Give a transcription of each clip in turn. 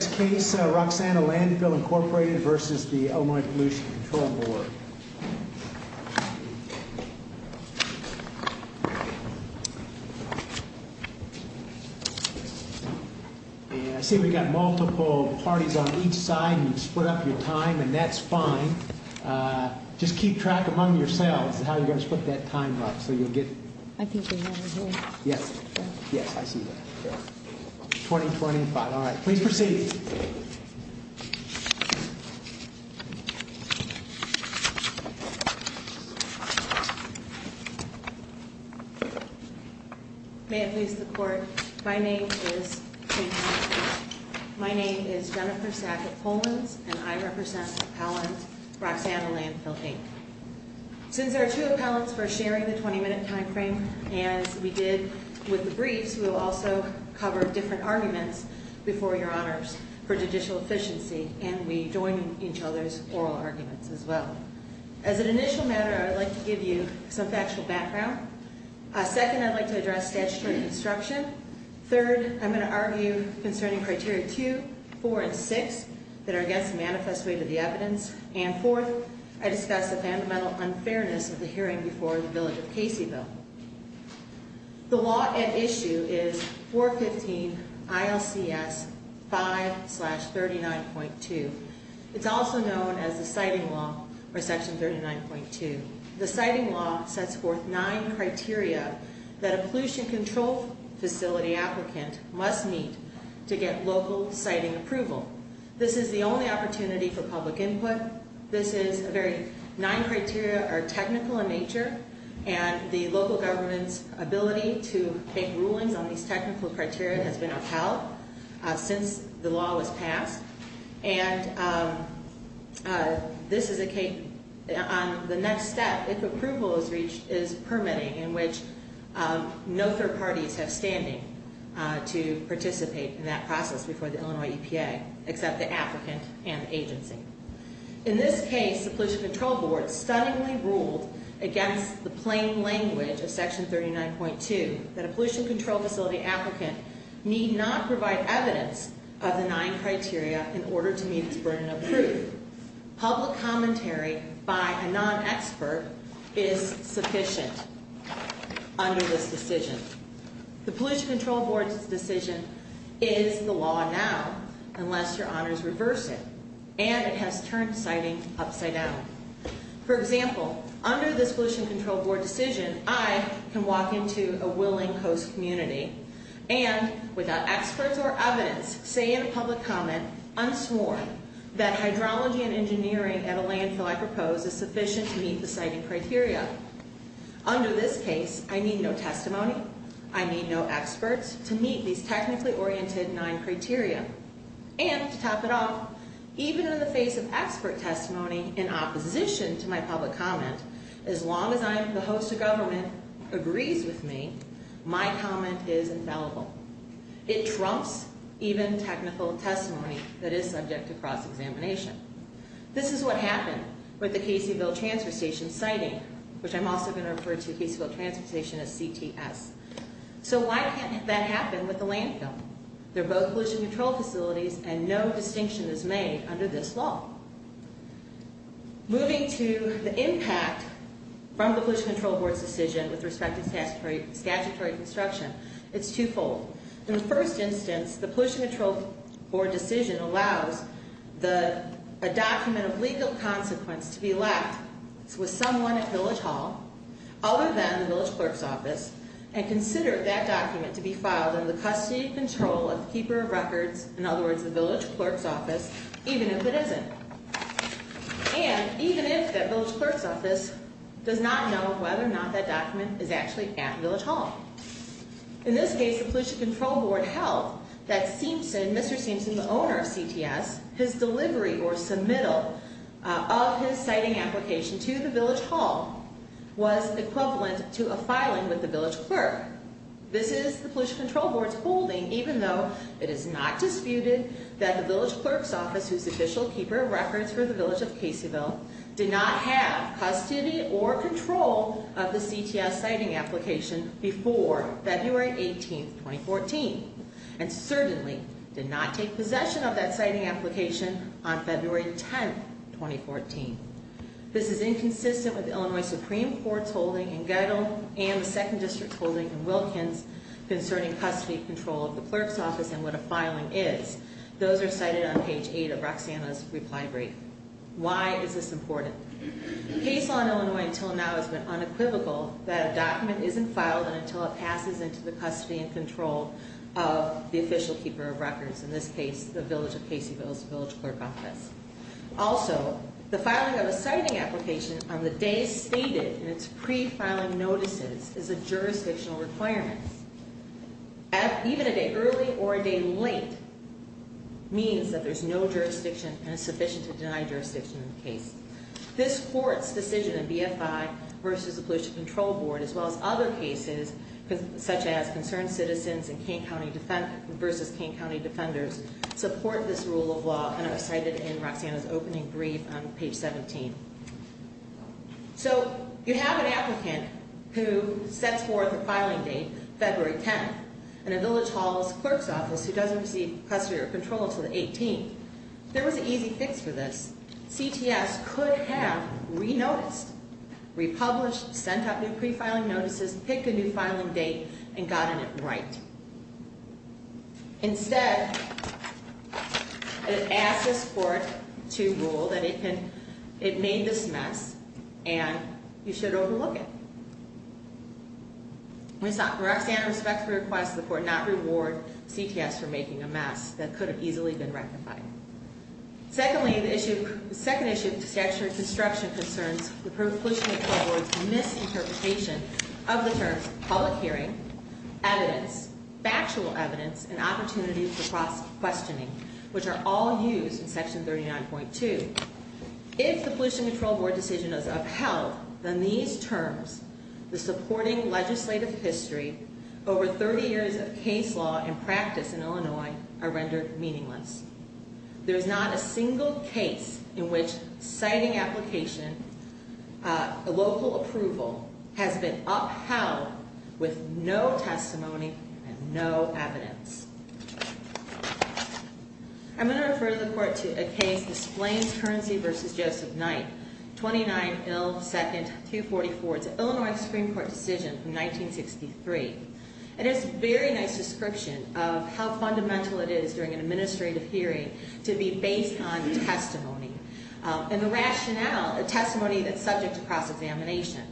I see we've got multiple parties on each side, and you've split up your time, and that's fine. Just keep track among yourselves of how you're going to split that time up, so you'll get... I think they're over here. Yes. Yes, I see that. Twenty-twenty-five. All right. Please proceed. Thank you. Thank you. Thank you. Thank you. Thank you. Thank you. May it please the Court, my name is... My name is Jennifer Sackett-Holmans, and I represent Appellant Roxana Landfill, Inc. Since there are two appellants for sharing the 20-minute time frame, as we did with the briefs, we will also cover different arguments before Your Honors for judicial efficiency, and we join each other's oral arguments as well. As an initial matter, I would like to give you some factual background. Second, I'd like to address statutory construction. Third, I'm going to argue concerning Criteria 2, 4, and 6 that are against the manifest way to the evidence. And fourth, I discuss the fundamental unfairness of the hearing before the village of Caseyville. The law at issue is 415 ILCS 5-39.2. It's also known as the Siting Law or Section 39.2. The Siting Law sets forth nine criteria that a pollution control facility applicant must meet to get local siting approval. This is the only opportunity for public input. This is a very—nine criteria are technical in nature, and the local government's ability to make rulings on these technical criteria has been upheld since the law was passed. And this is a—on the next step, if approval is reached, is permitting in which no third parties have standing to participate in that process before the Illinois EPA, except the applicant and agency. In this case, the Pollution Control Board stunningly ruled against the plain language of Section 39.2 that a pollution control facility applicant need not provide evidence of the nine criteria in order to meet its burden of proof. Public commentary by a non-expert is sufficient under this decision. The Pollution Control Board's decision is the law now unless your honors reverse it, and it has turned siting upside down. For example, under this Pollution Control Board decision, I can walk into a willing host community and, without experts or evidence, say in a public comment, unsworn, that hydrology and engineering at a landfill I propose is sufficient to meet the siting criteria. Under this case, I need no testimony. I need no experts to meet these technically oriented nine criteria. And, to top it off, even in the face of expert testimony in opposition to my public comment, as long as I'm—the host of government agrees with me, my comment is infallible. It trumps even technical testimony that is subject to cross-examination. This is what happened with the Caseyville Transfer Station siting, which I'm also going to refer to the Caseyville Transfer Station as CTS. So why can't that happen with a landfill? They're both pollution control facilities, and no distinction is made under this law. Moving to the impact from the Pollution Control Board's decision with respect to statutory construction, it's twofold. In the first instance, the Pollution Control Board decision allows a document of legal consequence to be left with someone at Village Hall other than the Village Clerk's Office and consider that document to be filed under the custody and control of the Keeper of Records, in other words, the Village Clerk's Office, even if it isn't, and even if that Village Clerk's Office does not know whether or not that document is actually at Village Hall. In this case, the Pollution Control Board held that Seamson, Mr. Seamson, the owner of CTS, his delivery or submittal of his siting application to the Village Hall was equivalent to a filing with the Village Clerk. This is the Pollution Control Board's holding, even though it is not disputed that the Village Clerk's Office, whose official Keeper of Records for the Village of Caseyville, did not have custody or control of the CTS siting application before February 18, 2014, and certainly did not take possession of that siting application on February 10, 2014. This is inconsistent with Illinois Supreme Court's holding in Gettle and the Second District's holding in Wilkins concerning custody control of the Clerk's Office and what a filing is. Those are cited on page 8 of Roxanna's reply brief. Why is this important? Case law in Illinois until now has been unequivocal that a document isn't filed until it passes into the custody and control of the official Keeper of Records, in this case, the Village of Caseyville's Village Clerk Office. Also, the filing of a siting application on the day stated in its pre-filing notices is a jurisdictional requirement. Even a day early or a day late means that there's no jurisdiction and is sufficient to deny jurisdiction in the case. This Court's decision in BFI versus the Pollution Control Board, as well as other cases, such as Concerned Citizens versus Kane County Defenders, support this rule of law, and it was cited in Roxanna's opening brief on page 17. So, you have an applicant who sets forth a filing date, February 10th, and a Village Hall's Clerk's Office who doesn't receive custody or control until the 18th. There was an easy fix for this. CTS could have re-noticed, republished, sent out new pre-filing notices, picked a new filing date, and gotten it right. Instead, it asked this Court to rule that it made this mess, and you should overlook it. We saw Roxanna respectfully request the Court not reward CTS for making a mess that could have easily been rectified. Secondly, the second issue of statutory disruption concerns the Pollution Control Board's misinterpretation of the terms public hearing, evidence, factual evidence, and opportunities for cross-questioning, which are all used in Section 39.2. If the Pollution Control Board decision is upheld, then these terms, the supporting legislative history, over 30 years of case law and practice in Illinois, are rendered meaningless. There is not a single case in which citing application, local approval, has been upheld with no testimony and no evidence. I'm going to refer the Court to a case, the Splains Currency v. Joseph Knight, 29-2-244. It's an Illinois Supreme Court decision from 1963. It has a very nice description of how fundamental it is during an administrative hearing to be based on testimony, and the rationale, a testimony that's subject to cross-examination.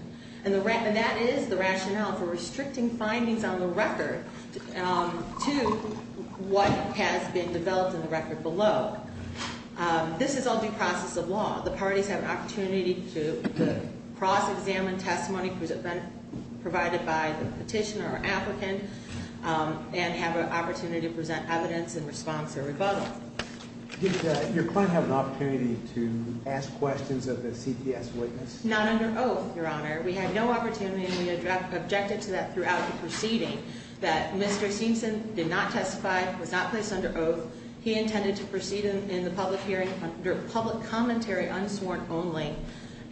And that is the rationale for restricting findings on the record to what has been developed in the record below. The parties have an opportunity to cross-examine testimony provided by the petitioner or applicant, and have an opportunity to present evidence in response or rebuttal. Did your client have an opportunity to ask questions of the CPS witness? Not under oath, Your Honor. We had no opportunity, and we objected to that throughout the proceeding, that Mr. Seamson did not testify, was not placed under oath. He intended to proceed in the public hearing under public commentary, unsworn only,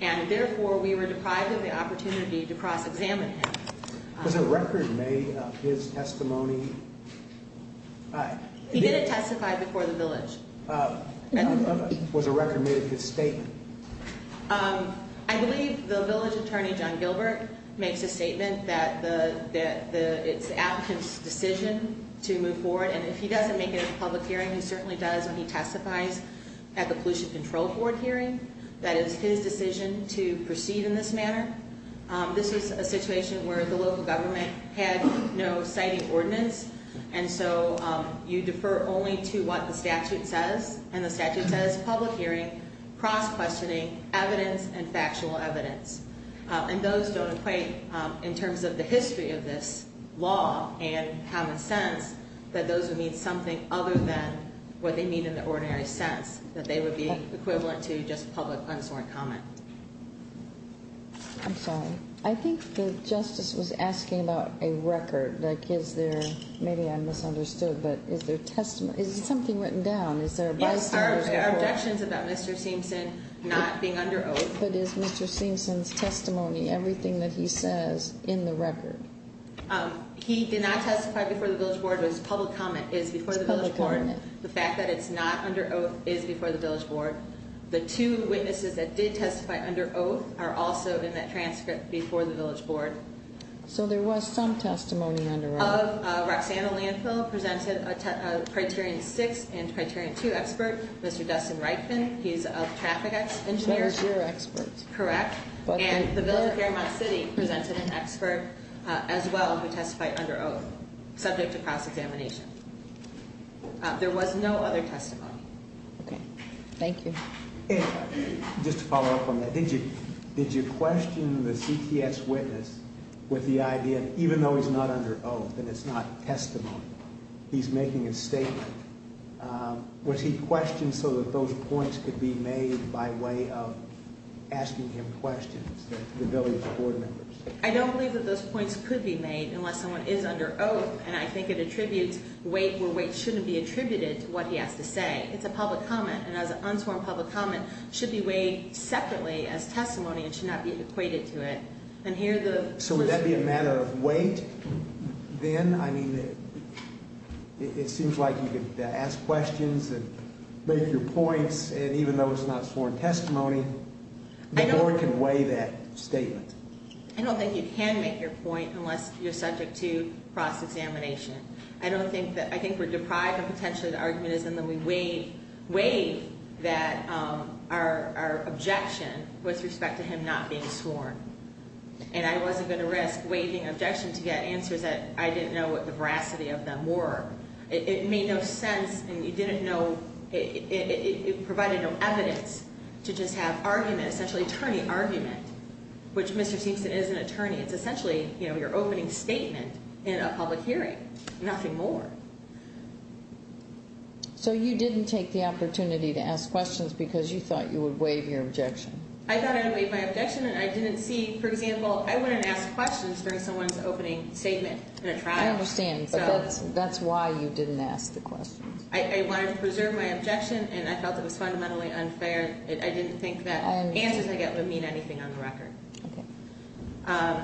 and therefore we were deprived of the opportunity to cross-examine him. Was a record made of his testimony? He didn't testify before the village. Was a record made of his statement? I believe the village attorney, John Gilbert, makes a statement that it's the applicant's decision to move forward, and if he doesn't make it in the public hearing, he certainly does when he testifies at the Pollution Control Board hearing. That is his decision to proceed in this manner. This is a situation where the local government had no citing ordinance, and so you defer only to what the statute says. And the statute says, public hearing, cross-questioning, evidence, and factual evidence. And those don't equate, in terms of the history of this law and common sense, that those would mean something other than what they mean in the ordinary sense, that they would be equivalent to just public, unsworn comment. I'm sorry. I think the Justice was asking about a record. Like, is there, maybe I misunderstood, but is there testimony, is there something written down? Is there a bystander's record? Yes, there are objections about Mr. Seamson not being under oath. But is Mr. Seamson's testimony, everything that he says, in the record? He did not testify before the village board, but his public comment is before the village board. The fact that it's not under oath is before the village board. The two witnesses that did testify under oath are also in that transcript before the village board. So there was some testimony under oath. Of Roxanna Landfill, presented a Criterion 6 and Criterion 2 expert, Mr. Dustin Reitman, he's a traffic engineer. He was your expert. Correct. And the village of Fairmont City presented an expert as well who testified under oath, subject to cross-examination. There was no other testimony. Okay. Thank you. Just to follow up on that, did you question the CTS witness with the idea, even though he's not under oath and it's not testimony, he's making a statement, was he questioned so that those points could be made by way of asking him questions, the village board members? I don't believe that those points could be made unless someone is under oath. And I think it attributes weight where weight shouldn't be attributed to what he has to say. It's a public comment. And as an unsworn public comment should be weighed separately as testimony and should not be equated to it. So would that be a matter of weight then? I mean, it seems like you could ask questions and make your points. And even though it's not sworn testimony, the board can weigh that statement. I don't think you can make your point unless you're subject to cross-examination. I don't think that, I think we're deprived and potentially the argument is in the way that our objection with respect to him not being sworn. And I wasn't going to risk waiving objection to get answers that I didn't know what the veracity of them were. It made no sense and you didn't know, it provided no evidence to just have argument, essentially attorney argument, which Mr. Simpson is an attorney. It's essentially, you know, your opening statement in a public hearing, nothing more. So you didn't take the opportunity to ask questions because you thought you would waive your objection? I thought I would waive my objection and I didn't see, for example, I wouldn't ask questions during someone's opening statement in a trial. I understand, but that's why you didn't ask the questions. I wanted to preserve my objection and I felt it was fundamentally unfair. I didn't think that answers I get would mean anything on the record. Okay.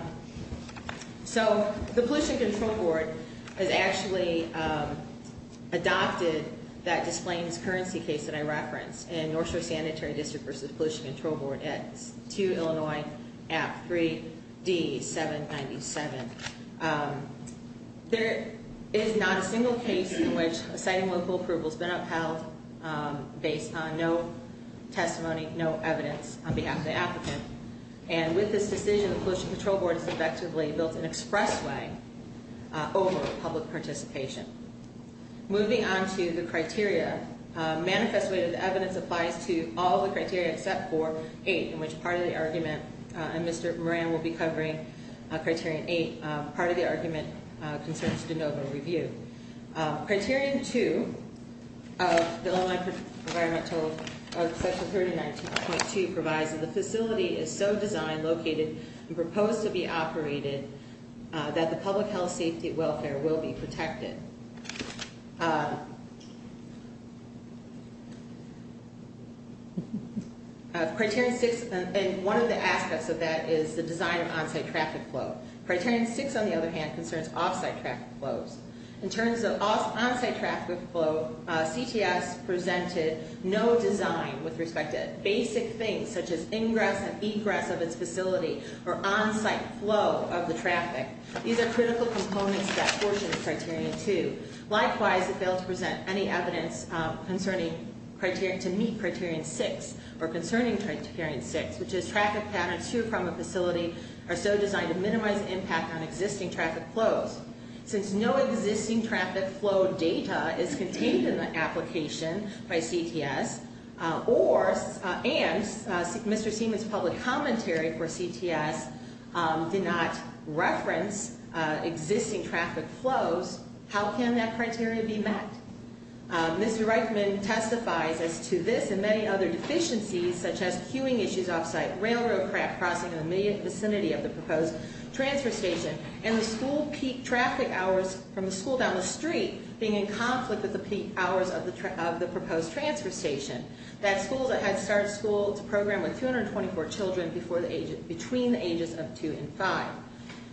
So the Pollution Control Board has actually adopted that displaced currency case that I referenced in North Shore Sanitary District versus Pollution Control Board at 2 Illinois at 3D797. There is not a single case in which a site and local approval has been upheld based on no testimony, no evidence on behalf of the applicant. And with this decision, the Pollution Control Board has effectively built an express way over public participation. Moving on to the criteria, manifest way that the evidence applies to all the criteria except for 8, in which part of the argument, and Mr. Moran will be covering Criterion 8, part of the argument concerns de novo review. Criterion 2 of the Illinois Environmental Section 39.2 provides that the facility is so designed, located, and proposed to be operated that the public health, safety, and welfare will be protected. Criterion 6, and one of the aspects of that is the design of on-site traffic flow. Criterion 6, on the other hand, concerns off-site traffic flows. In terms of on-site traffic flow, CTS presented no design with respect to basic things such as ingress and egress of its facility or on-site flow of the traffic. These are critical components of that portion of Criterion 2. Likewise, it failed to present any evidence concerning Criterion, to meet Criterion 6 or concerning Criterion 6, which is traffic patterns to or from a facility are so designed to minimize impact on existing traffic flows. Since no existing traffic flow data is contained in the application by CTS, and Mr. Seaman's public commentary for CTS did not reference existing traffic flows, how can that criteria be met? Mr. Reichman testifies as to this and many other deficiencies such as queuing issues off-site, railroad track crossing in the immediate vicinity of the proposed transfer station, and the school peak traffic hours from the school down the street being in conflict with the peak hours of the proposed transfer station. That school's a head start school. It's a program with 224 children between the ages of 2 and 5.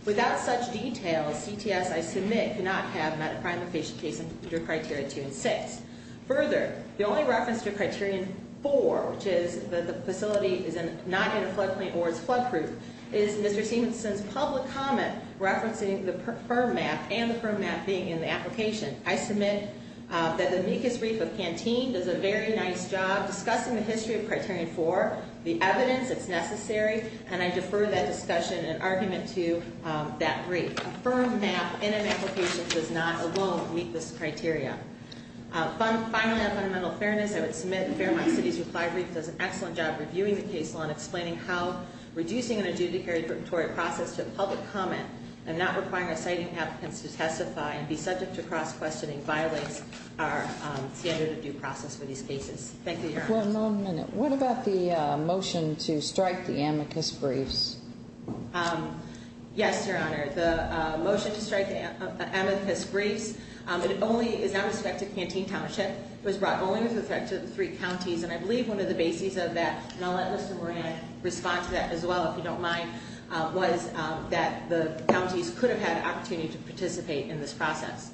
Without such details, CTS, I submit, cannot have met a primary patient case under Criterion 2 and 6. Further, the only reference to Criterion 4, which is that the facility is not in a flood plain or is flood proof, is Mr. Seaman's public comment referencing the firm map and the firm map being in the application. I submit that the meekest reef of Pantene does a very nice job discussing the history of Criterion 4, the evidence that's necessary, and I defer that discussion and argument to that reef. A firm map in an application does not alone meet this criteria. Finally, on fundamental fairness, I would submit Fairmont City's reply brief does an excellent job reviewing the case while explaining how reducing an adjudicatory process to a public comment and not requiring our citing applicants to testify and be subject to cross-questioning violates our standard of due process for these cases. Thank you, Your Honor. One moment. What about the motion to strike the amicus briefs? Yes, Your Honor. The motion to strike the amicus briefs is not with respect to Pantene Township. It was brought only with respect to the three counties, and I believe one of the bases of that, and I'll let Mr. Moran respond to that as well if you don't mind, was that the counties could have had an opportunity to participate in this process.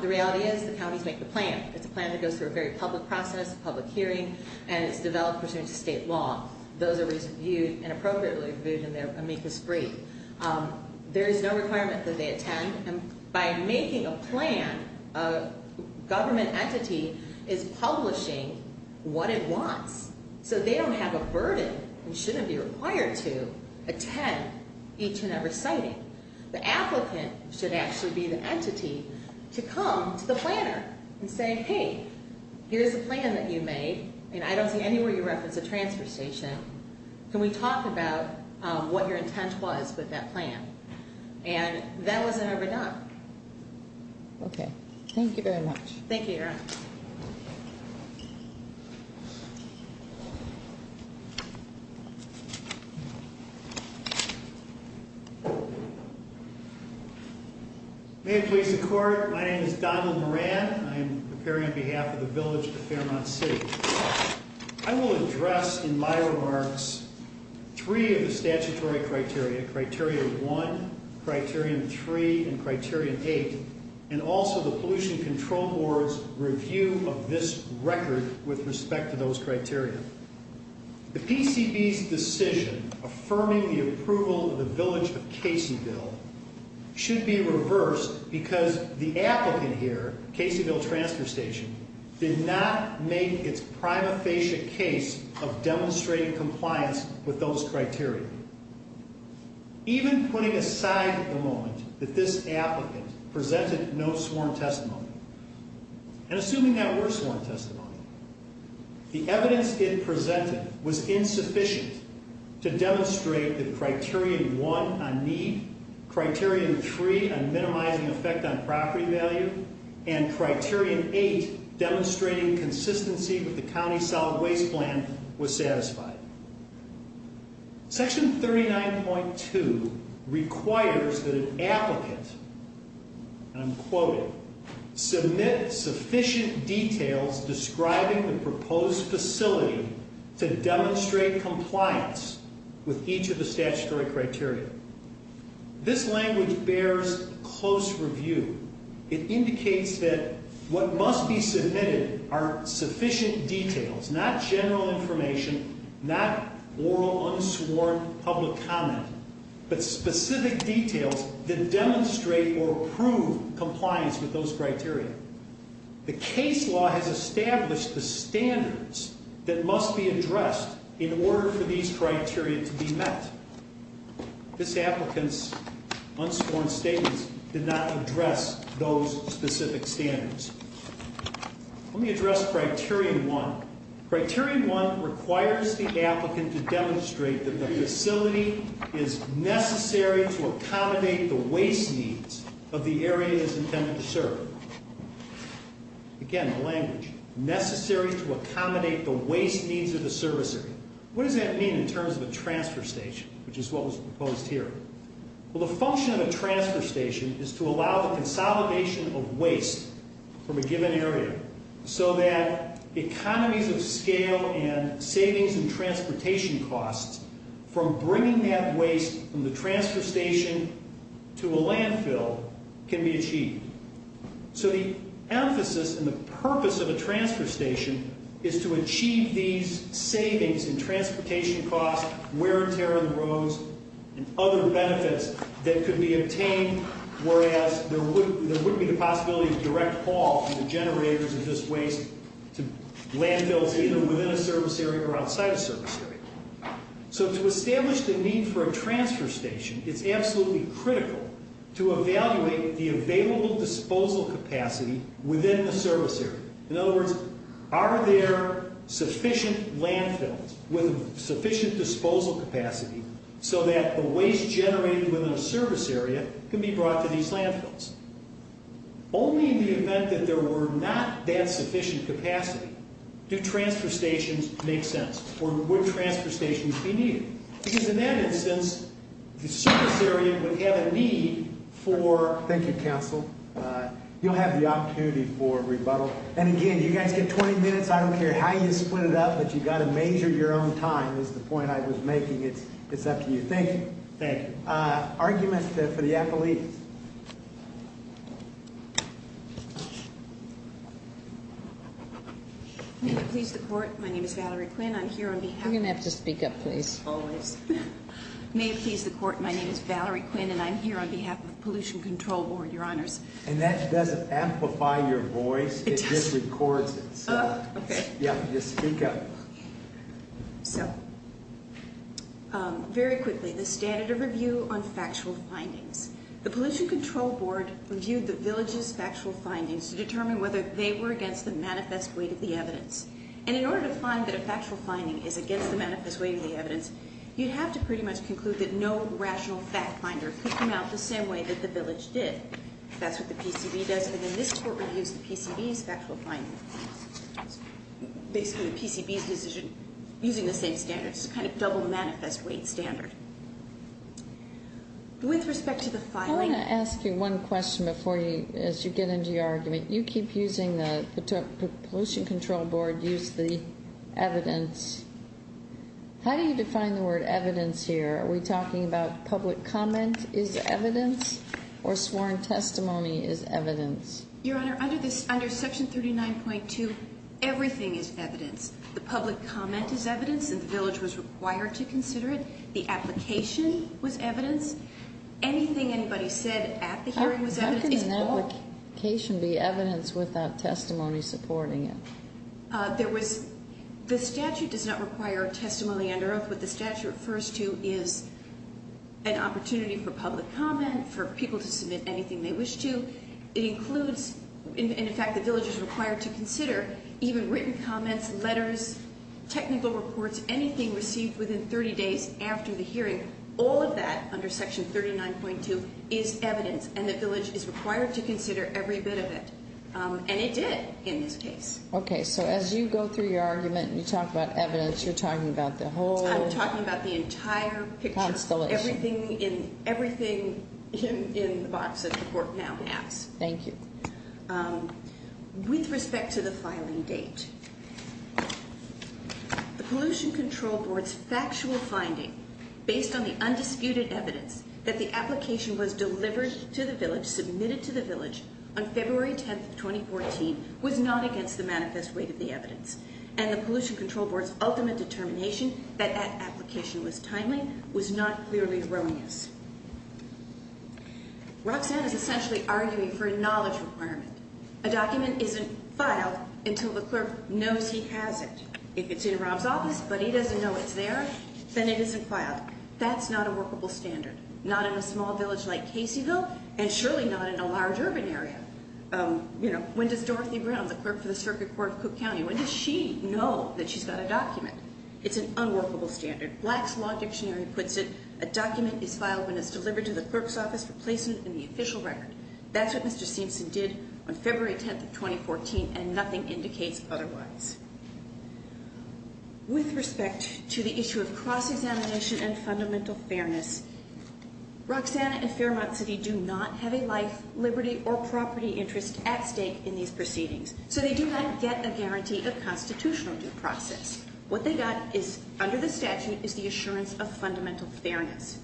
The reality is the counties make the plan. It's a plan that goes through a very public process, a public hearing, and it's developed pursuant to state law. Those are reviewed and appropriately reviewed in their amicus brief. There is no requirement that they attend. By making a plan, a government entity is publishing what it wants, so they don't have a burden and shouldn't be required to attend each and every citing. The applicant should actually be the entity to come to the planner and say, Hey, here's a plan that you made, and I don't see anywhere you reference a transfer station. Can we talk about what your intent was with that plan? And that wasn't ever done. Okay. Thank you very much. Thank you, Your Honor. May it please the Court, my name is Donald Moran. I am appearing on behalf of the Village of Fairmont City. I will address in my remarks three of the statutory criteria, Criterion 1, Criterion 3, and Criterion 8, and also the Pollution Control Board's review of this record with respect to those criteria. The PCB's decision affirming the approval of the Village of Caseyville should be reversed because the applicant here, Caseyville Transfer Station, did not make its prima facie case of demonstrating compliance with those criteria. Even putting aside the moment that this applicant presented no sworn testimony, and assuming that were sworn testimony, the evidence it presented was insufficient to demonstrate that Criterion 1 on need, Criterion 3 on minimizing effect on property value, and Criterion 8, demonstrating consistency with the County Solid Waste Plan, was satisfied. Section 39.2 requires that an applicant, and I'm quoting, submit sufficient details describing the proposed facility to demonstrate compliance with each of the statutory criteria. This language bears close review. It indicates that what must be submitted are sufficient details, not general information, not oral, unsworn public comment, but specific details that demonstrate or prove compliance with those criteria. The case law has established the standards that must be addressed in order for these criteria to be met. This applicant's unsworn statements did not address those specific standards. Let me address Criterion 1. Criterion 1 requires the applicant to demonstrate that the facility is necessary to accommodate the waste needs of the area it is intended to serve. Again, the language, necessary to accommodate the waste needs of the service area. What does that mean in terms of a transfer station, which is what was proposed here? Well, the function of a transfer station is to allow the consolidation of waste from a given area so that economies of scale and savings in transportation costs from bringing that waste from the transfer station to a landfill can be achieved. So the emphasis and the purpose of a transfer station is to achieve these savings in transportation costs, wear and tear of the roads, and other benefits that could be obtained whereas there wouldn't be the possibility of direct haul from the generators of this waste to landfills either within a service area or outside a service area. So to establish the need for a transfer station, it's absolutely critical to evaluate the available disposal capacity within a service area. In other words, are there sufficient landfills with sufficient disposal capacity so that the waste generated within a service area can be brought to these landfills? Only in the event that there were not that sufficient capacity do transfer stations make sense or would transfer stations be needed. Because in that instance, the service area would have a need for... Thank you, counsel. You'll have the opportunity for rebuttal. And again, you guys get 20 minutes. I don't care how you split it up, but you've got to measure your own time is the point I was making. It's up to you. Thank you. Thank you. Arguments for the appellees? Please report. My name is Valerie Quinn. I'm here on behalf of... You're going to have to speak up, please. Always. May it please the Court, my name is Valerie Quinn, and I'm here on behalf of the Pollution Control Board, Your Honors. And that doesn't amplify your voice. It does. It just records it. Oh, okay. Yeah, just speak up. So, very quickly, the standard of review on factual findings. The Pollution Control Board reviewed the villages' factual findings to determine whether they were against the manifest weight of the evidence. And in order to find that a factual finding is against the manifest weight of the evidence, you'd have to pretty much conclude that no rational fact finder could come out the same way that the village did. That's what the PCB does, and then this Court reviews the PCB's factual findings. Basically, the PCB's decision, using the same standards, kind of double manifest weight standard. With respect to the filing... I want to ask you one question before you, as you get into your argument. You keep using the Pollution Control Board, use the evidence. How do you define the word evidence here? Are we talking about public comment is evidence or sworn testimony is evidence? Your Honor, under Section 39.2, everything is evidence. The public comment is evidence and the village was required to consider it. The application was evidence. Anything anybody said at the hearing was evidence. How can an application be evidence without testimony supporting it? The statute does not require a testimony under oath. What the statute refers to is an opportunity for public comment, for people to submit anything they wish to. It includes, and in fact the village is required to consider, even written comments, letters, technical reports, anything received within 30 days after the hearing, all of that under Section 39.2 is evidence and the village is required to consider every bit of it. And it did in this case. Okay, so as you go through your argument and you talk about evidence, you're talking about the whole... I'm talking about the entire picture. Constellation. Everything in the box that the court now has. Thank you. With respect to the filing date, the Pollution Control Board's factual finding, based on the undisputed evidence that the application was delivered to the village, submitted to the village, on February 10, 2014, was not against the manifest weight of the evidence. And the Pollution Control Board's ultimate determination that that application was timely was not clearly erroneous. Roxanne is essentially arguing for a knowledge requirement. A document isn't filed until the clerk knows he has it. If it's in Rob's office but he doesn't know it's there, then it isn't filed. That's not a workable standard. Not in a small village like Caseyville and surely not in a large urban area. You know, when does Dorothy Brown, the clerk for the Circuit Court of Cook County, when does she know that she's got a document? It's an unworkable standard. Black's Law Dictionary puts it, a document is filed when it's delivered to the clerk's office for placement in the official record. That's what Mr. Simpson did on February 10, 2014, and nothing indicates otherwise. With respect to the issue of cross-examination and fundamental fairness, Roxanne and Fairmont City do not have a life, liberty, or property interest at stake in these proceedings, so they do not get a guarantee of constitutional due process. What they got under the statute is the assurance of fundamental fairness.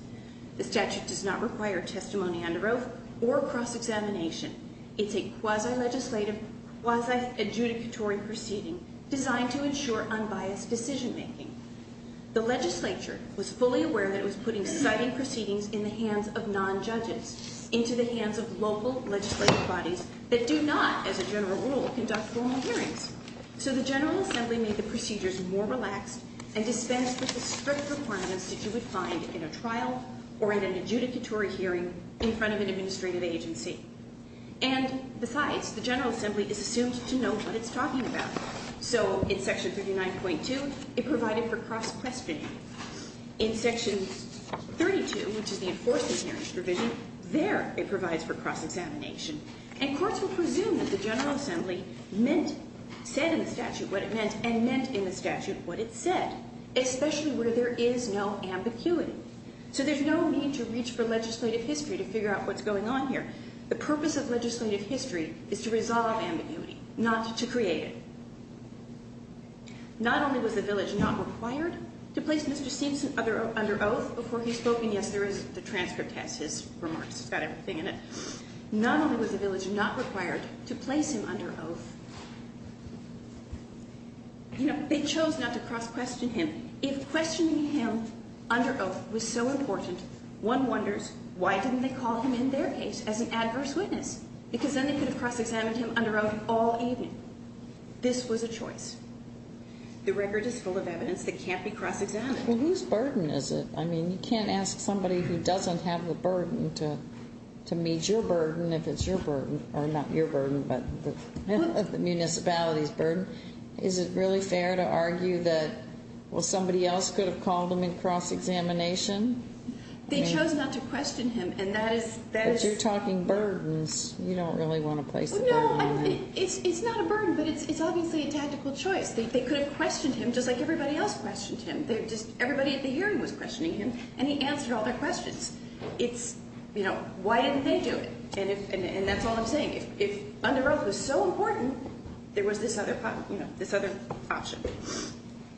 The statute does not require testimony under oath or cross-examination. It's a quasi-legislative, quasi-adjudicatory proceeding designed to ensure unbiased decision-making. The legislature was fully aware that it was putting citing proceedings in the hands of non-judges, into the hands of local legislative bodies that do not, as a general rule, conduct formal hearings. So the General Assembly made the procedures more relaxed and dispensed with the strict requirements that you would find in a trial or in an adjudicatory hearing in front of an administrative agency. And besides, the General Assembly is assumed to know what it's talking about. So in Section 39.2, it provided for cross-questioning. In Section 32, which is the enforcement hearings provision, there it provides for cross-examination. And courts will presume that the General Assembly meant, said in the statute what it meant, and meant in the statute what it said, especially where there is no ambiguity. So there's no need to reach for legislative history to figure out what's going on here. The purpose of legislative history is to resolve ambiguity, not to create it. Not only was the village not required to place Mr. Simpson under oath before he spoke, and yes, the transcript has his remarks. It's got everything in it. Not only was the village not required to place him under oath, you know, they chose not to cross-question him. If questioning him under oath was so important, one wonders, why didn't they call him in their case as an adverse witness? Because then they could have cross-examined him under oath all evening. This was a choice. The record is full of evidence that can't be cross-examined. Well, whose burden is it? I mean, you can't ask somebody who doesn't have the burden to meet your burden, if it's your burden, or not your burden, but the municipality's burden. Is it really fair to argue that, well, somebody else could have called him in cross-examination? They chose not to question him, and that is... But you're talking burdens. You don't really want to place the burden on them. No, it's not a burden, but it's obviously a tactical choice. They could have questioned him just like everybody else questioned him. Everybody at the hearing was questioning him, and he answered all their questions. It's, you know, why didn't they do it? And that's all I'm saying. If under oath was so important, there was this other option.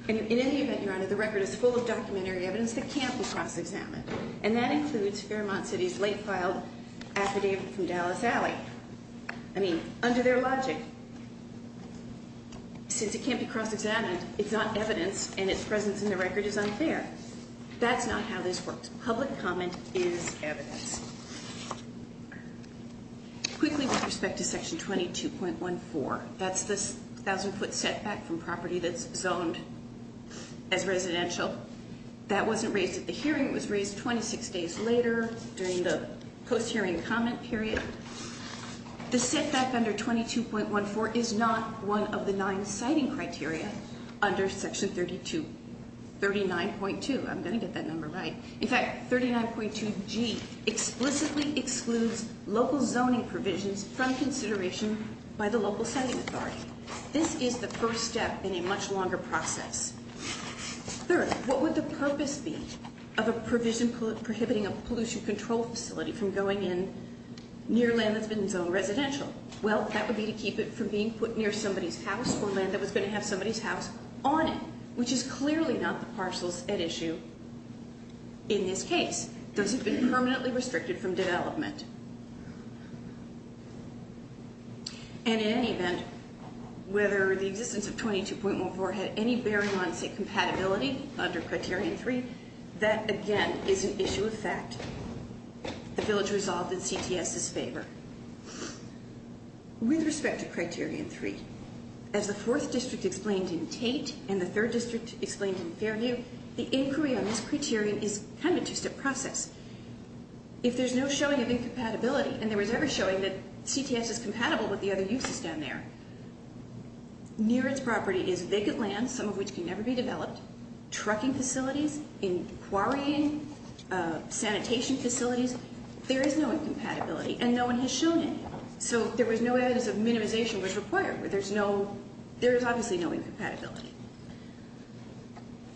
In any event, Your Honor, the record is full of documentary evidence that can't be cross-examined, and that includes Fairmont City's late-filed affidavit from Dallas Alley. I mean, under their logic, since it can't be cross-examined, it's not evidence, and its presence in the record is unfair. That's not how this works. Public comment is evidence. Quickly, with respect to Section 22.14, that's the 1,000-foot setback from property that's zoned as residential. That wasn't raised at the hearing. It was raised 26 days later during the post-hearing comment period. The setback under 22.14 is not one of the nine siting criteria under Section 32. 39.2, I'm going to get that number right. In fact, 39.2G explicitly excludes local zoning provisions from consideration by the local siting authority. This is the first step in a much longer process. Third, what would the purpose be of a provision prohibiting a pollution control facility from going in near land that's been zoned residential? Well, that would be to keep it from being put near somebody's house or land that was going to have somebody's house on it, which is clearly not the parcels at issue in this case. Those have been permanently restricted from development. And in any event, whether the existence of 22.14 had any bearing on, say, compatibility under Criterion 3, that, again, is an issue of fact. The village resolved in CTS's favor. With respect to Criterion 3, as the 4th District explained in Tate and the 3rd District explained in Fairview, the inquiry on this criterion is kind of a two-step process. If there's no showing of incompatibility, and there was never showing that CTS is compatible with the other uses down there, near its property is vacant land, some of which can never be developed, trucking facilities, inquiring, sanitation facilities. There is no incompatibility, and no one has shown it. So there was no evidence that minimization was required. There is obviously no incompatibility.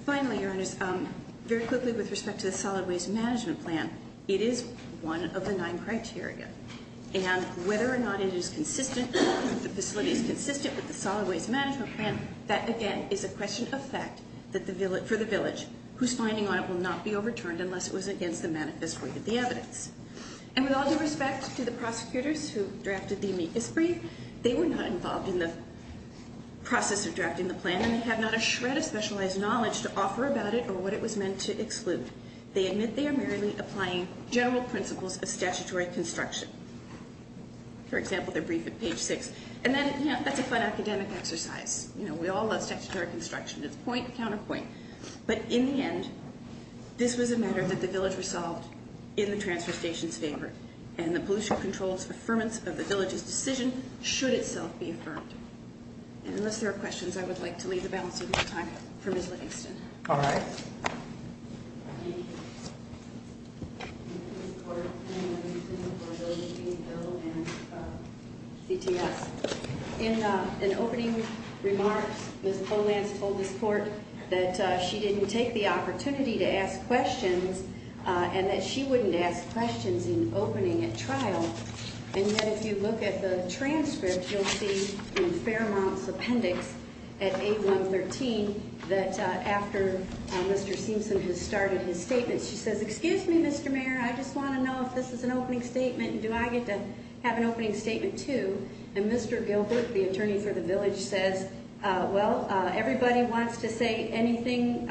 Finally, Your Honors, very quickly with respect to the Solid Waste Management Plan, it is one of the nine criteria. And whether or not it is consistent, if the facility is consistent with the Solid Waste Management Plan, that, again, is a question of fact for the village, whose finding on it will not be overturned unless it was against the manifest way of the evidence. And with all due respect to the prosecutors who drafted the amicus brief, they were not involved in the process of drafting the plan, and they have not a shred of specialized knowledge to offer about it or what it was meant to exclude. They admit they are merely applying general principles of statutory construction. For example, their brief at page 6. And that's a fun academic exercise. You know, we all love statutory construction. It's point, counterpoint. But in the end, this was a matter that the village resolved in the transfer station's favor, and the pollution control's affirmance of the village's decision should itself be affirmed. And unless there are questions, I would like to leave the balancing of time for Ms. Livingston. All right. In opening remarks, Ms. Polans told this court that she didn't take the opportunity to ask questions and that she wouldn't ask questions in opening at trial. And yet if you look at the transcript, you'll see from Fairmont's appendix at 8113 that after Mr. Seamson has started his statement, she says, Excuse me, Mr. Mayor, I just want to know if this is an opening statement, and do I get to have an opening statement too? And Mr. Gilbert, the attorney for the village, says, Well, everybody who wants to say anything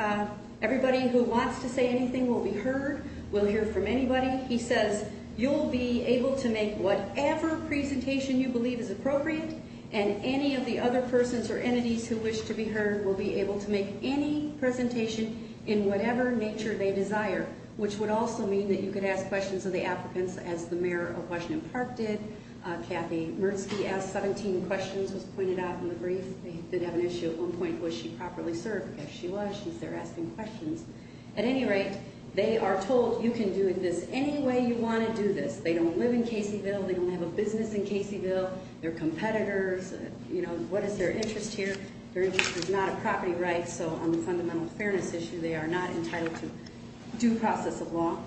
will be heard, will hear from anybody. He says, You'll be able to make whatever presentation you believe is appropriate, and any of the other persons or entities who wish to be heard will be able to make any presentation in whatever nature they desire, which would also mean that you could ask questions of the applicants, as the mayor of Washington Park did. Kathy Mertzke asked 17 questions, as pointed out in the brief. They did have an issue at one point. Was she properly served? Yes, she was. She's there asking questions. At any rate, they are told you can do this any way you want to do this. They don't live in Caseyville. They don't have a business in Caseyville. They're competitors. You know, what is their interest here? Their interest is not a property right, so on the fundamental fairness issue, they are not entitled to due process of law.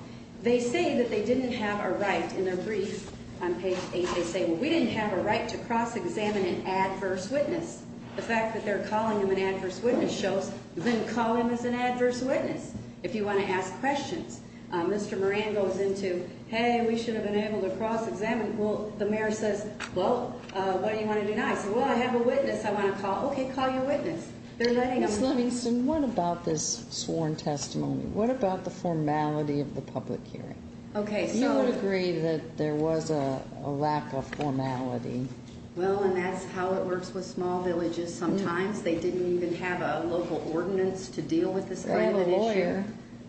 They say that they didn't have a right in their brief on page 8. They say, Well, we didn't have a right to cross-examine an adverse witness. The fact that they're calling him an adverse witness shows you didn't call him as an adverse witness. If you want to ask questions, Mr. Moran goes into, Hey, we should have been able to cross-examine. Well, the mayor says, Well, what do you want to do now? I say, Well, I have a witness I want to call. Okay, call your witness. Ms. Livingston, what about this sworn testimony? What about the formality of the public hearing? You would agree that there was a lack of formality. Well, and that's how it works with small villages sometimes. They didn't even have a local ordinance to deal with this kind of an issue. They have a lawyer.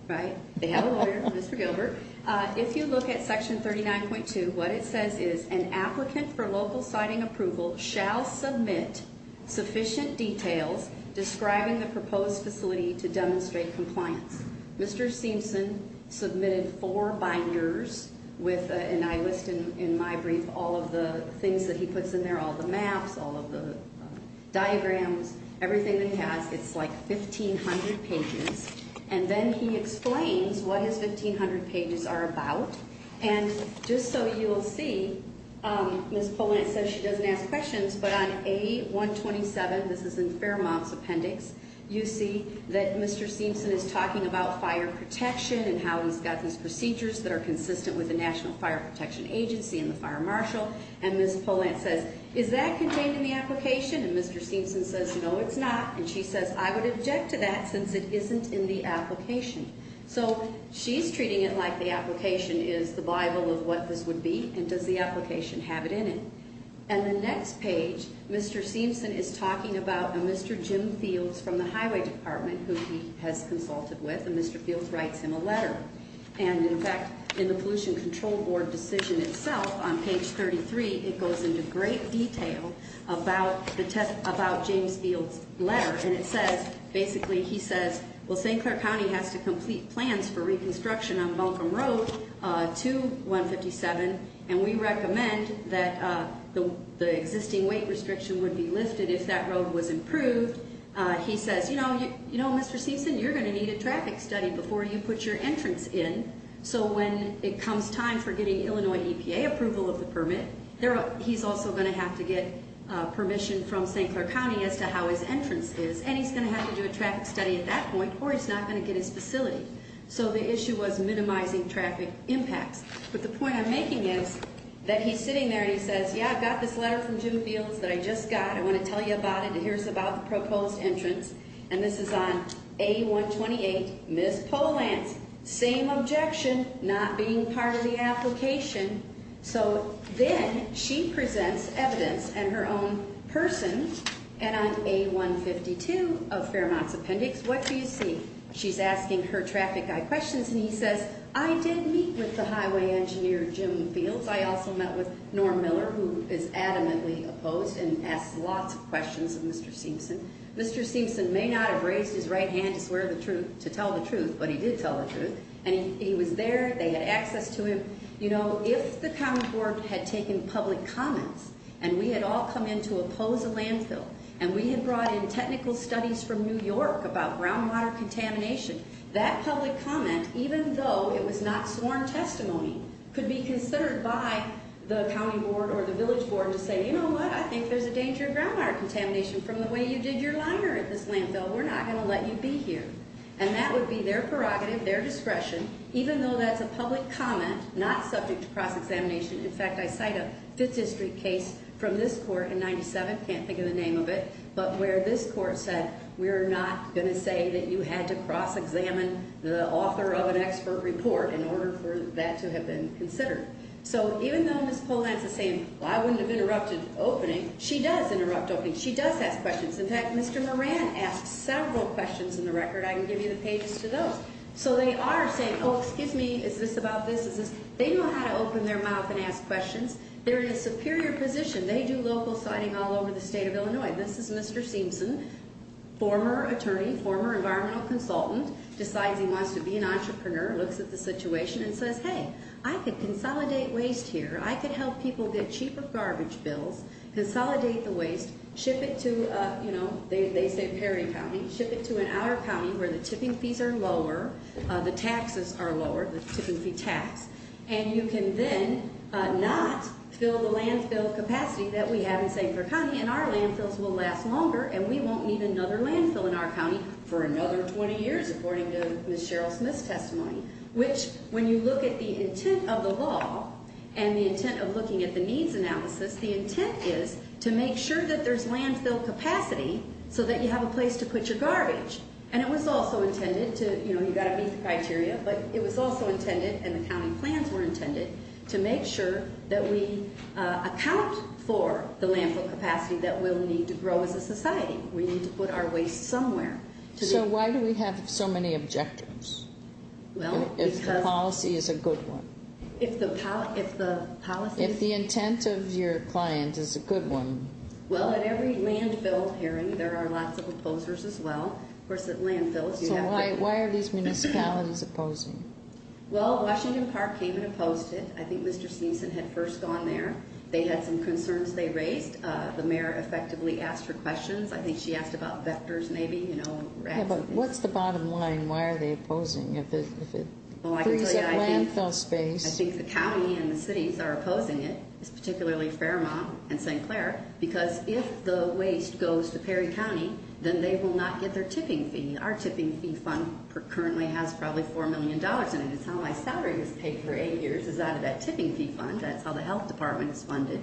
Right, they have a lawyer, Mr. Gilbert. If you look at Section 39.2, what it says is, An applicant for local siting approval shall submit sufficient details describing the proposed facility to demonstrate compliance. Mr. Seamson submitted four binders, and I list in my brief all of the things that he puts in there, all the maps, all of the diagrams, everything that he has. It's like 1,500 pages. And then he explains what his 1,500 pages are about. And just so you will see, Ms. Polantz says she doesn't ask questions. But on A127, this is in Fairmont's appendix, you see that Mr. Seamson is talking about fire protection and how he's got these procedures that are consistent with the National Fire Protection Agency and the fire marshal. And Ms. Polantz says, Is that contained in the application? And Mr. Seamson says, No, it's not. And she says, I would object to that since it isn't in the application. So she's treating it like the application is the Bible of what this would be, and does the application have it in it. And the next page, Mr. Seamson is talking about a Mr. Jim Fields from the highway department who he has consulted with, and Mr. Fields writes him a letter. And, in fact, in the Pollution Control Board decision itself, on page 33, it goes into great detail about James Fields' letter. And it says, basically, he says, Well, St. Clair County has to complete plans for reconstruction on Buncombe Road to 157, and we recommend that the existing weight restriction would be lifted if that road was improved. He says, You know, Mr. Seamson, you're going to need a traffic study before you put your entrance in. So when it comes time for getting Illinois EPA approval of the permit, he's also going to have to get permission from St. Clair County as to how his entrance is, and he's going to have to do a traffic study at that point, or he's not going to get his facility. So the issue was minimizing traffic impacts. But the point I'm making is that he's sitting there and he says, Yeah, I've got this letter from Jim Fields that I just got. I want to tell you about it, and here's about the proposed entrance. And this is on A-128, Ms. Polance. Same objection, not being part of the application. So then she presents evidence and her own person, and on A-152 of Fairmont's appendix, what do you see? She's asking her traffic guy questions, and he says, I did meet with the highway engineer, Jim Fields. I also met with Norm Miller, who is adamantly opposed and asks lots of questions of Mr. Seamson. Mr. Seamson may not have raised his right hand to swear to tell the truth, but he did tell the truth. And he was there. They had access to him. You know, if the county board had taken public comments and we had all come in to oppose a landfill and we had brought in technical studies from New York about groundwater contamination, that public comment, even though it was not sworn testimony, could be considered by the county board or the village board to say, you know what, I think there's a danger of groundwater contamination from the way you did your liner at this landfill. We're not going to let you be here. And that would be their prerogative, their discretion, even though that's a public comment, not subject to cross-examination. In fact, I cite a Fifth District case from this court in 97, can't think of the name of it, but where this court said we're not going to say that you had to cross-examine the author of an expert report in order for that to have been considered. So even though Ms. Polanski is saying, well, I wouldn't have interrupted opening, she does interrupt opening. She does ask questions. In fact, Mr. Moran asked several questions in the record. I can give you the pages to those. So they are saying, oh, excuse me, is this about this? They know how to open their mouth and ask questions. They're in a superior position. They do local citing all over the state of Illinois. This is Mr. Seamson, former attorney, former environmental consultant, decides he wants to be an entrepreneur, looks at the situation and says, hey, I could consolidate waste here. I could help people get cheaper garbage bills, consolidate the waste, ship it to, you know, they say Perry County, ship it to an hour county where the tipping fees are lower, the taxes are lower, the tipping fee tax, and you can then not fill the landfill capacity that we have in St. Clair County and our landfills will last longer and we won't need another landfill in our county for another 20 years, according to Ms. Cheryl Smith's testimony, which when you look at the intent of the law and the intent of looking at the needs analysis, the intent is to make sure that there's landfill capacity so that you have a place to put your garbage. And it was also intended to, you know, you've got to meet the criteria, but it was also intended and the county plans were intended to make sure that we account for the landfill capacity that we'll need to grow as a society. We need to put our waste somewhere. So why do we have so many objectives? Well, because... If the policy is a good one. If the policy... If the intent of your client is a good one. Well, at every landfill hearing there are lots of opposers as well. Of course, at landfills you have... Why are these municipalities opposing? Well, Washington Park came and opposed it. I think Mr. Sneeson had first gone there. They had some concerns they raised. The mayor effectively asked her questions. I think she asked about vectors maybe, you know. Yeah, but what's the bottom line? Why are they opposing if it frees up landfill space? I think the county and the cities are opposing it, particularly Fairmont and St. Clair, because if the waste goes to Perry County, then they will not get their tipping fee. Our tipping fee fund currently has probably $4 million in it. It's how my salary was paid for eight years. It's out of that tipping fee fund. That's how the health department is funded.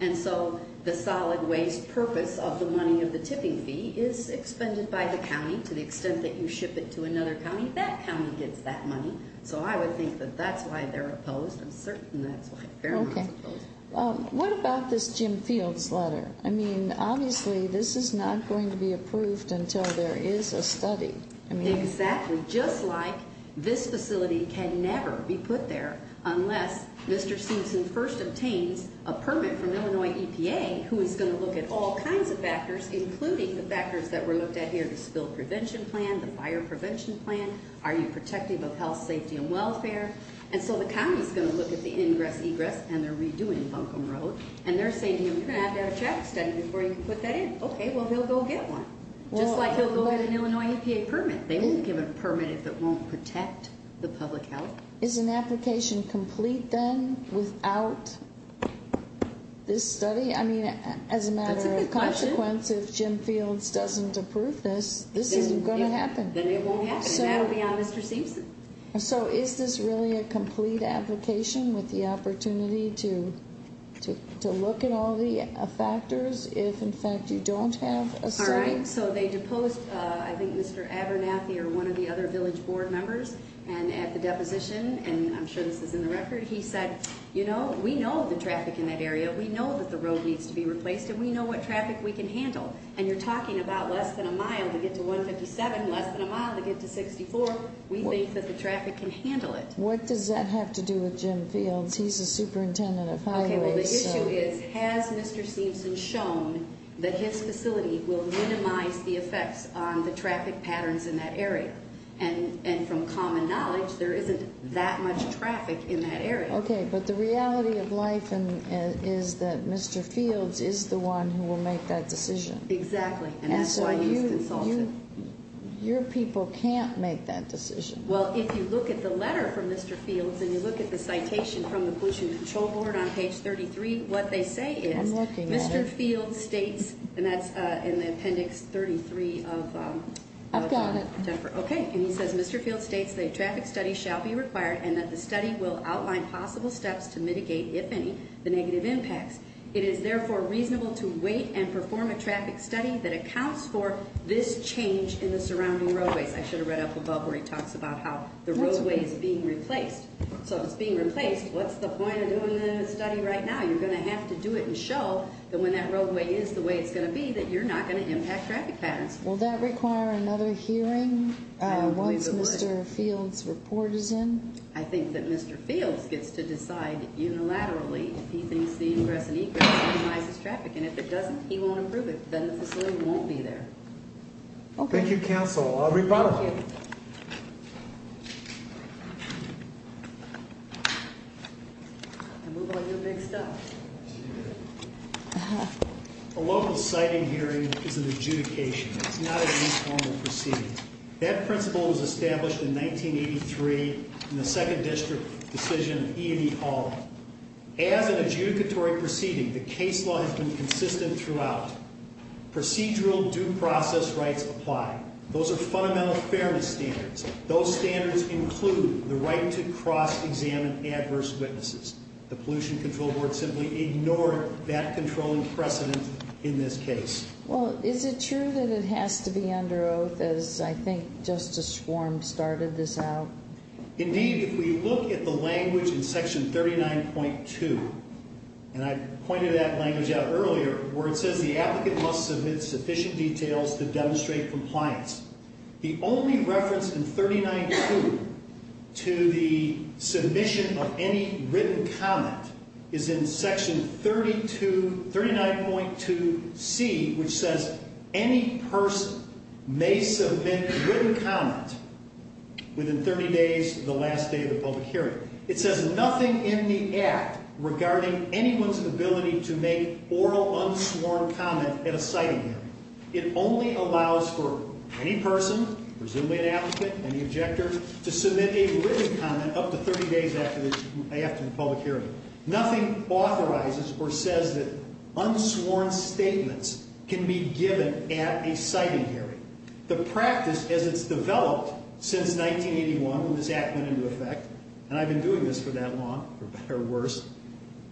And so the solid waste purpose of the money of the tipping fee is expended by the county to the extent that you ship it to another county. That county gets that money. So I would think that that's why they're opposed. I'm certain that's why Fairmont is opposed. Okay. What about this Jim Fields letter? I mean, obviously, this is not going to be approved until there is a study. Exactly. Just like this facility can never be put there unless Mr. Simpson first obtains a permit from Illinois EPA, who is going to look at all kinds of factors, including the factors that were looked at here, the spill prevention plan, the fire prevention plan. Are you protective of health, safety, and welfare? And so the county is going to look at the ingress, egress, and the redoing of Buncombe Road. And they're saying, you're going to have to have a check study before you can put that in. Okay, well, he'll go get one. Just like he'll go get an Illinois EPA permit. They won't give a permit if it won't protect the public health. Is an application complete then without this study? I mean, as a matter of consequence, if Jim Fields doesn't approve this, this isn't going to happen. Then it won't happen. And that will be on Mr. Simpson. So is this really a complete application with the opportunity to look at all the factors if, in fact, you don't have a study? All right, so they deposed, I think Mr. Abernathy or one of the other village board members, and at the deposition, and I'm sure this is in the record, he said, you know, we know the traffic in that area. We know that the road needs to be replaced, and we know what traffic we can handle. And you're talking about less than a mile to get to 157, less than a mile to get to 64. We think that the traffic can handle it. What does that have to do with Jim Fields? He's the superintendent of highways. Okay, well, the issue is, has Mr. Simpson shown that his facility will minimize the effects on the traffic patterns in that area? And from common knowledge, there isn't that much traffic in that area. Okay, but the reality of life is that Mr. Fields is the one who will make that decision. Exactly, and that's why he's consulted. Your people can't make that decision. Well, if you look at the letter from Mr. Fields, and you look at the citation from the Pollution Control Board on page 33, what they say is, Mr. Fields states, and that's in the appendix 33 of- I've got it. Okay, and he says, Mr. Fields states the traffic study shall be required, and that the study will outline possible steps to mitigate, if any, the negative impacts. It is, therefore, reasonable to wait and perform a traffic study that accounts for this change in the surrounding roadways. I should have read up above where he talks about how the roadway is being replaced. So if it's being replaced, what's the point of doing the study right now? You're going to have to do it and show that when that roadway is the way it's going to be, that you're not going to impact traffic patterns. Will that require another hearing once Mr. Fields' report is in? I think that Mr. Fields gets to decide unilaterally if he thinks the ingress and egress minimizes traffic, and if it doesn't, he won't approve it. Then the facility won't be there. Okay. Thank you, counsel. Thank you. A local siting hearing is an adjudication. It's not an informal proceeding. That principle was established in 1983 in the second district decision of E&E Hall. As an adjudicatory proceeding, the case law has been consistent throughout. Procedural due process rights apply. Those are fundamental fairness standards. Those standards include the right to cross-examine adverse witnesses. The Pollution Control Board simply ignored that controlling precedent in this case. Well, is it true that it has to be under oath, as I think Justice Schwarm started this out? Indeed. If we look at the language in Section 39.2, and I pointed that language out earlier, where it says the applicant must submit sufficient details to demonstrate compliance, the only reference in 39.2 to the submission of any written comment is in Section 39.2C, which says any person may submit a written comment within 30 days of the last day of the public hearing. It says nothing in the Act regarding anyone's ability to make oral, unsworn comment at a siting hearing. It only allows for any person, presumably an applicant, any objector, to submit a written comment up to 30 days after the public hearing. Nothing authorizes or says that unsworn statements can be given at a siting hearing. The practice, as it's developed since 1981 when this Act went into effect, and I've been doing this for that long, for better or worse,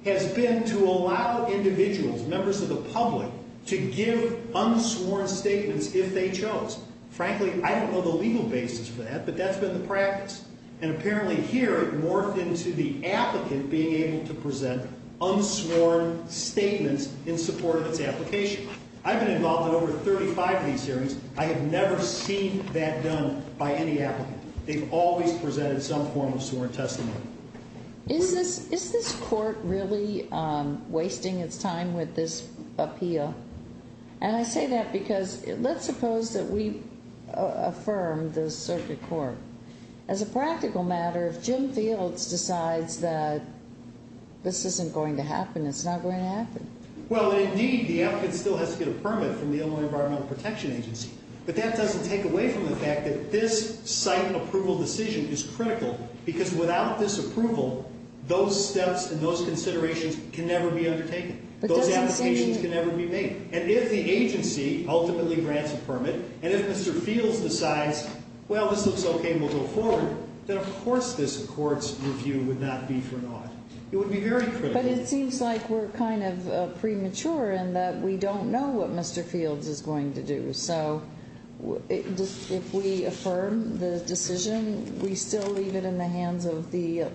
has been to allow individuals, members of the public, to give unsworn statements if they chose. Frankly, I don't know the legal basis for that, but that's been the practice. And apparently here it morphed into the applicant being able to present unsworn statements in support of its application. I've been involved in over 35 of these hearings. I have never seen that done by any applicant. They've always presented some form of sworn testimony. Is this court really wasting its time with this appeal? And I say that because let's suppose that we affirm the circuit court. As a practical matter, if Jim Fields decides that this isn't going to happen, it's not going to happen. Well, indeed, the applicant still has to get a permit from the Illinois Environmental Protection Agency. But that doesn't take away from the fact that this site approval decision is critical because without this approval, those steps and those considerations can never be undertaken. Those allocations can never be made. And if the agency ultimately grants a permit, and if Mr. Fields decides, well, this looks okay, we'll go forward, then of course this court's review would not be for naught. It would be very critical. But it seems like we're kind of premature in that we don't know what Mr. Fields is going to do. So if we affirm the decision, we still leave it in the hands of the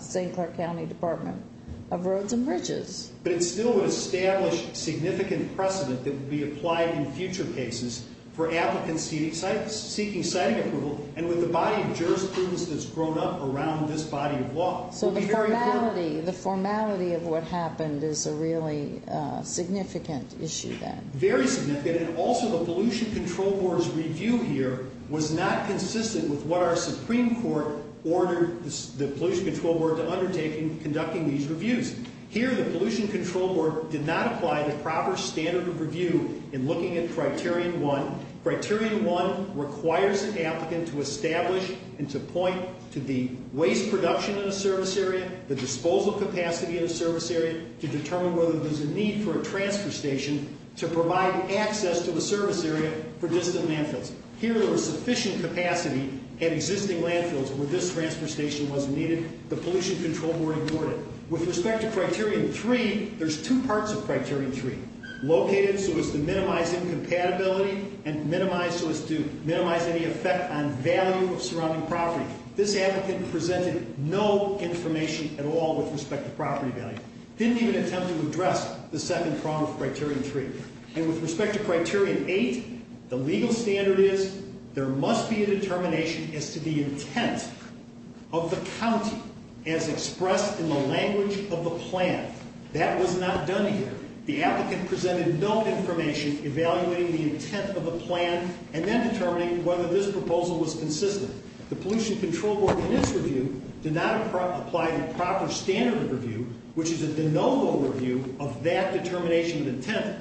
St. Clark County Department of Roads and Bridges. But it still would establish significant precedent that would be applied in future cases for applicants seeking siting approval and with the body of jurisprudence that's grown up around this body of law. So the formality of what happened is a really significant issue then. Very significant, and also the Pollution Control Board's review here was not consistent with what our Supreme Court ordered the Pollution Control Board to undertake in conducting these reviews. Here, the Pollution Control Board did not apply the proper standard of review in looking at Criterion 1. Criterion 1 requires an applicant to establish and to point to the waste production in a service area, the disposal capacity in a service area, to determine whether there's a need for a transfer station to provide access to the service area for distant landfills. Here, there was sufficient capacity at existing landfills where this transfer station was needed. The Pollution Control Board ignored it. With respect to Criterion 3, there's two parts of Criterion 3. Located so as to minimize incompatibility and minimized so as to minimize any effect on value of surrounding property. This applicant presented no information at all with respect to property value. Didn't even attempt to address the second prong of Criterion 3. And with respect to Criterion 8, the legal standard is there must be a determination as to the intent of the county as expressed in the language of the plan. That was not done here. The applicant presented no information evaluating the intent of the plan and then determining whether this proposal was consistent. The Pollution Control Board, in its review, did not apply the proper standard of review, which is a de novo review of that determination of intent.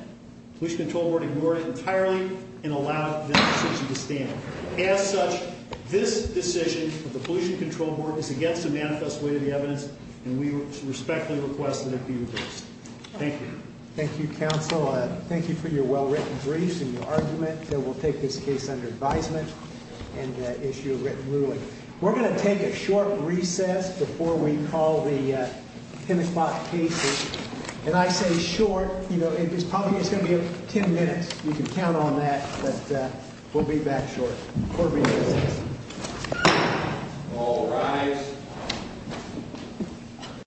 The Pollution Control Board ignored it entirely and allowed this decision to stand. As such, this decision of the Pollution Control Board is against the manifest way of the evidence and we respectfully request that it be reversed. Thank you. Thank you, counsel. Thank you for your well-written briefs and your argument that we'll take this case under advisement and issue a written ruling. We're going to take a short recess before we call the 10 o'clock case issue. And I say short, you know, it's probably going to be 10 minutes. You can count on that, but we'll be back short. Court will be in recess. All rise.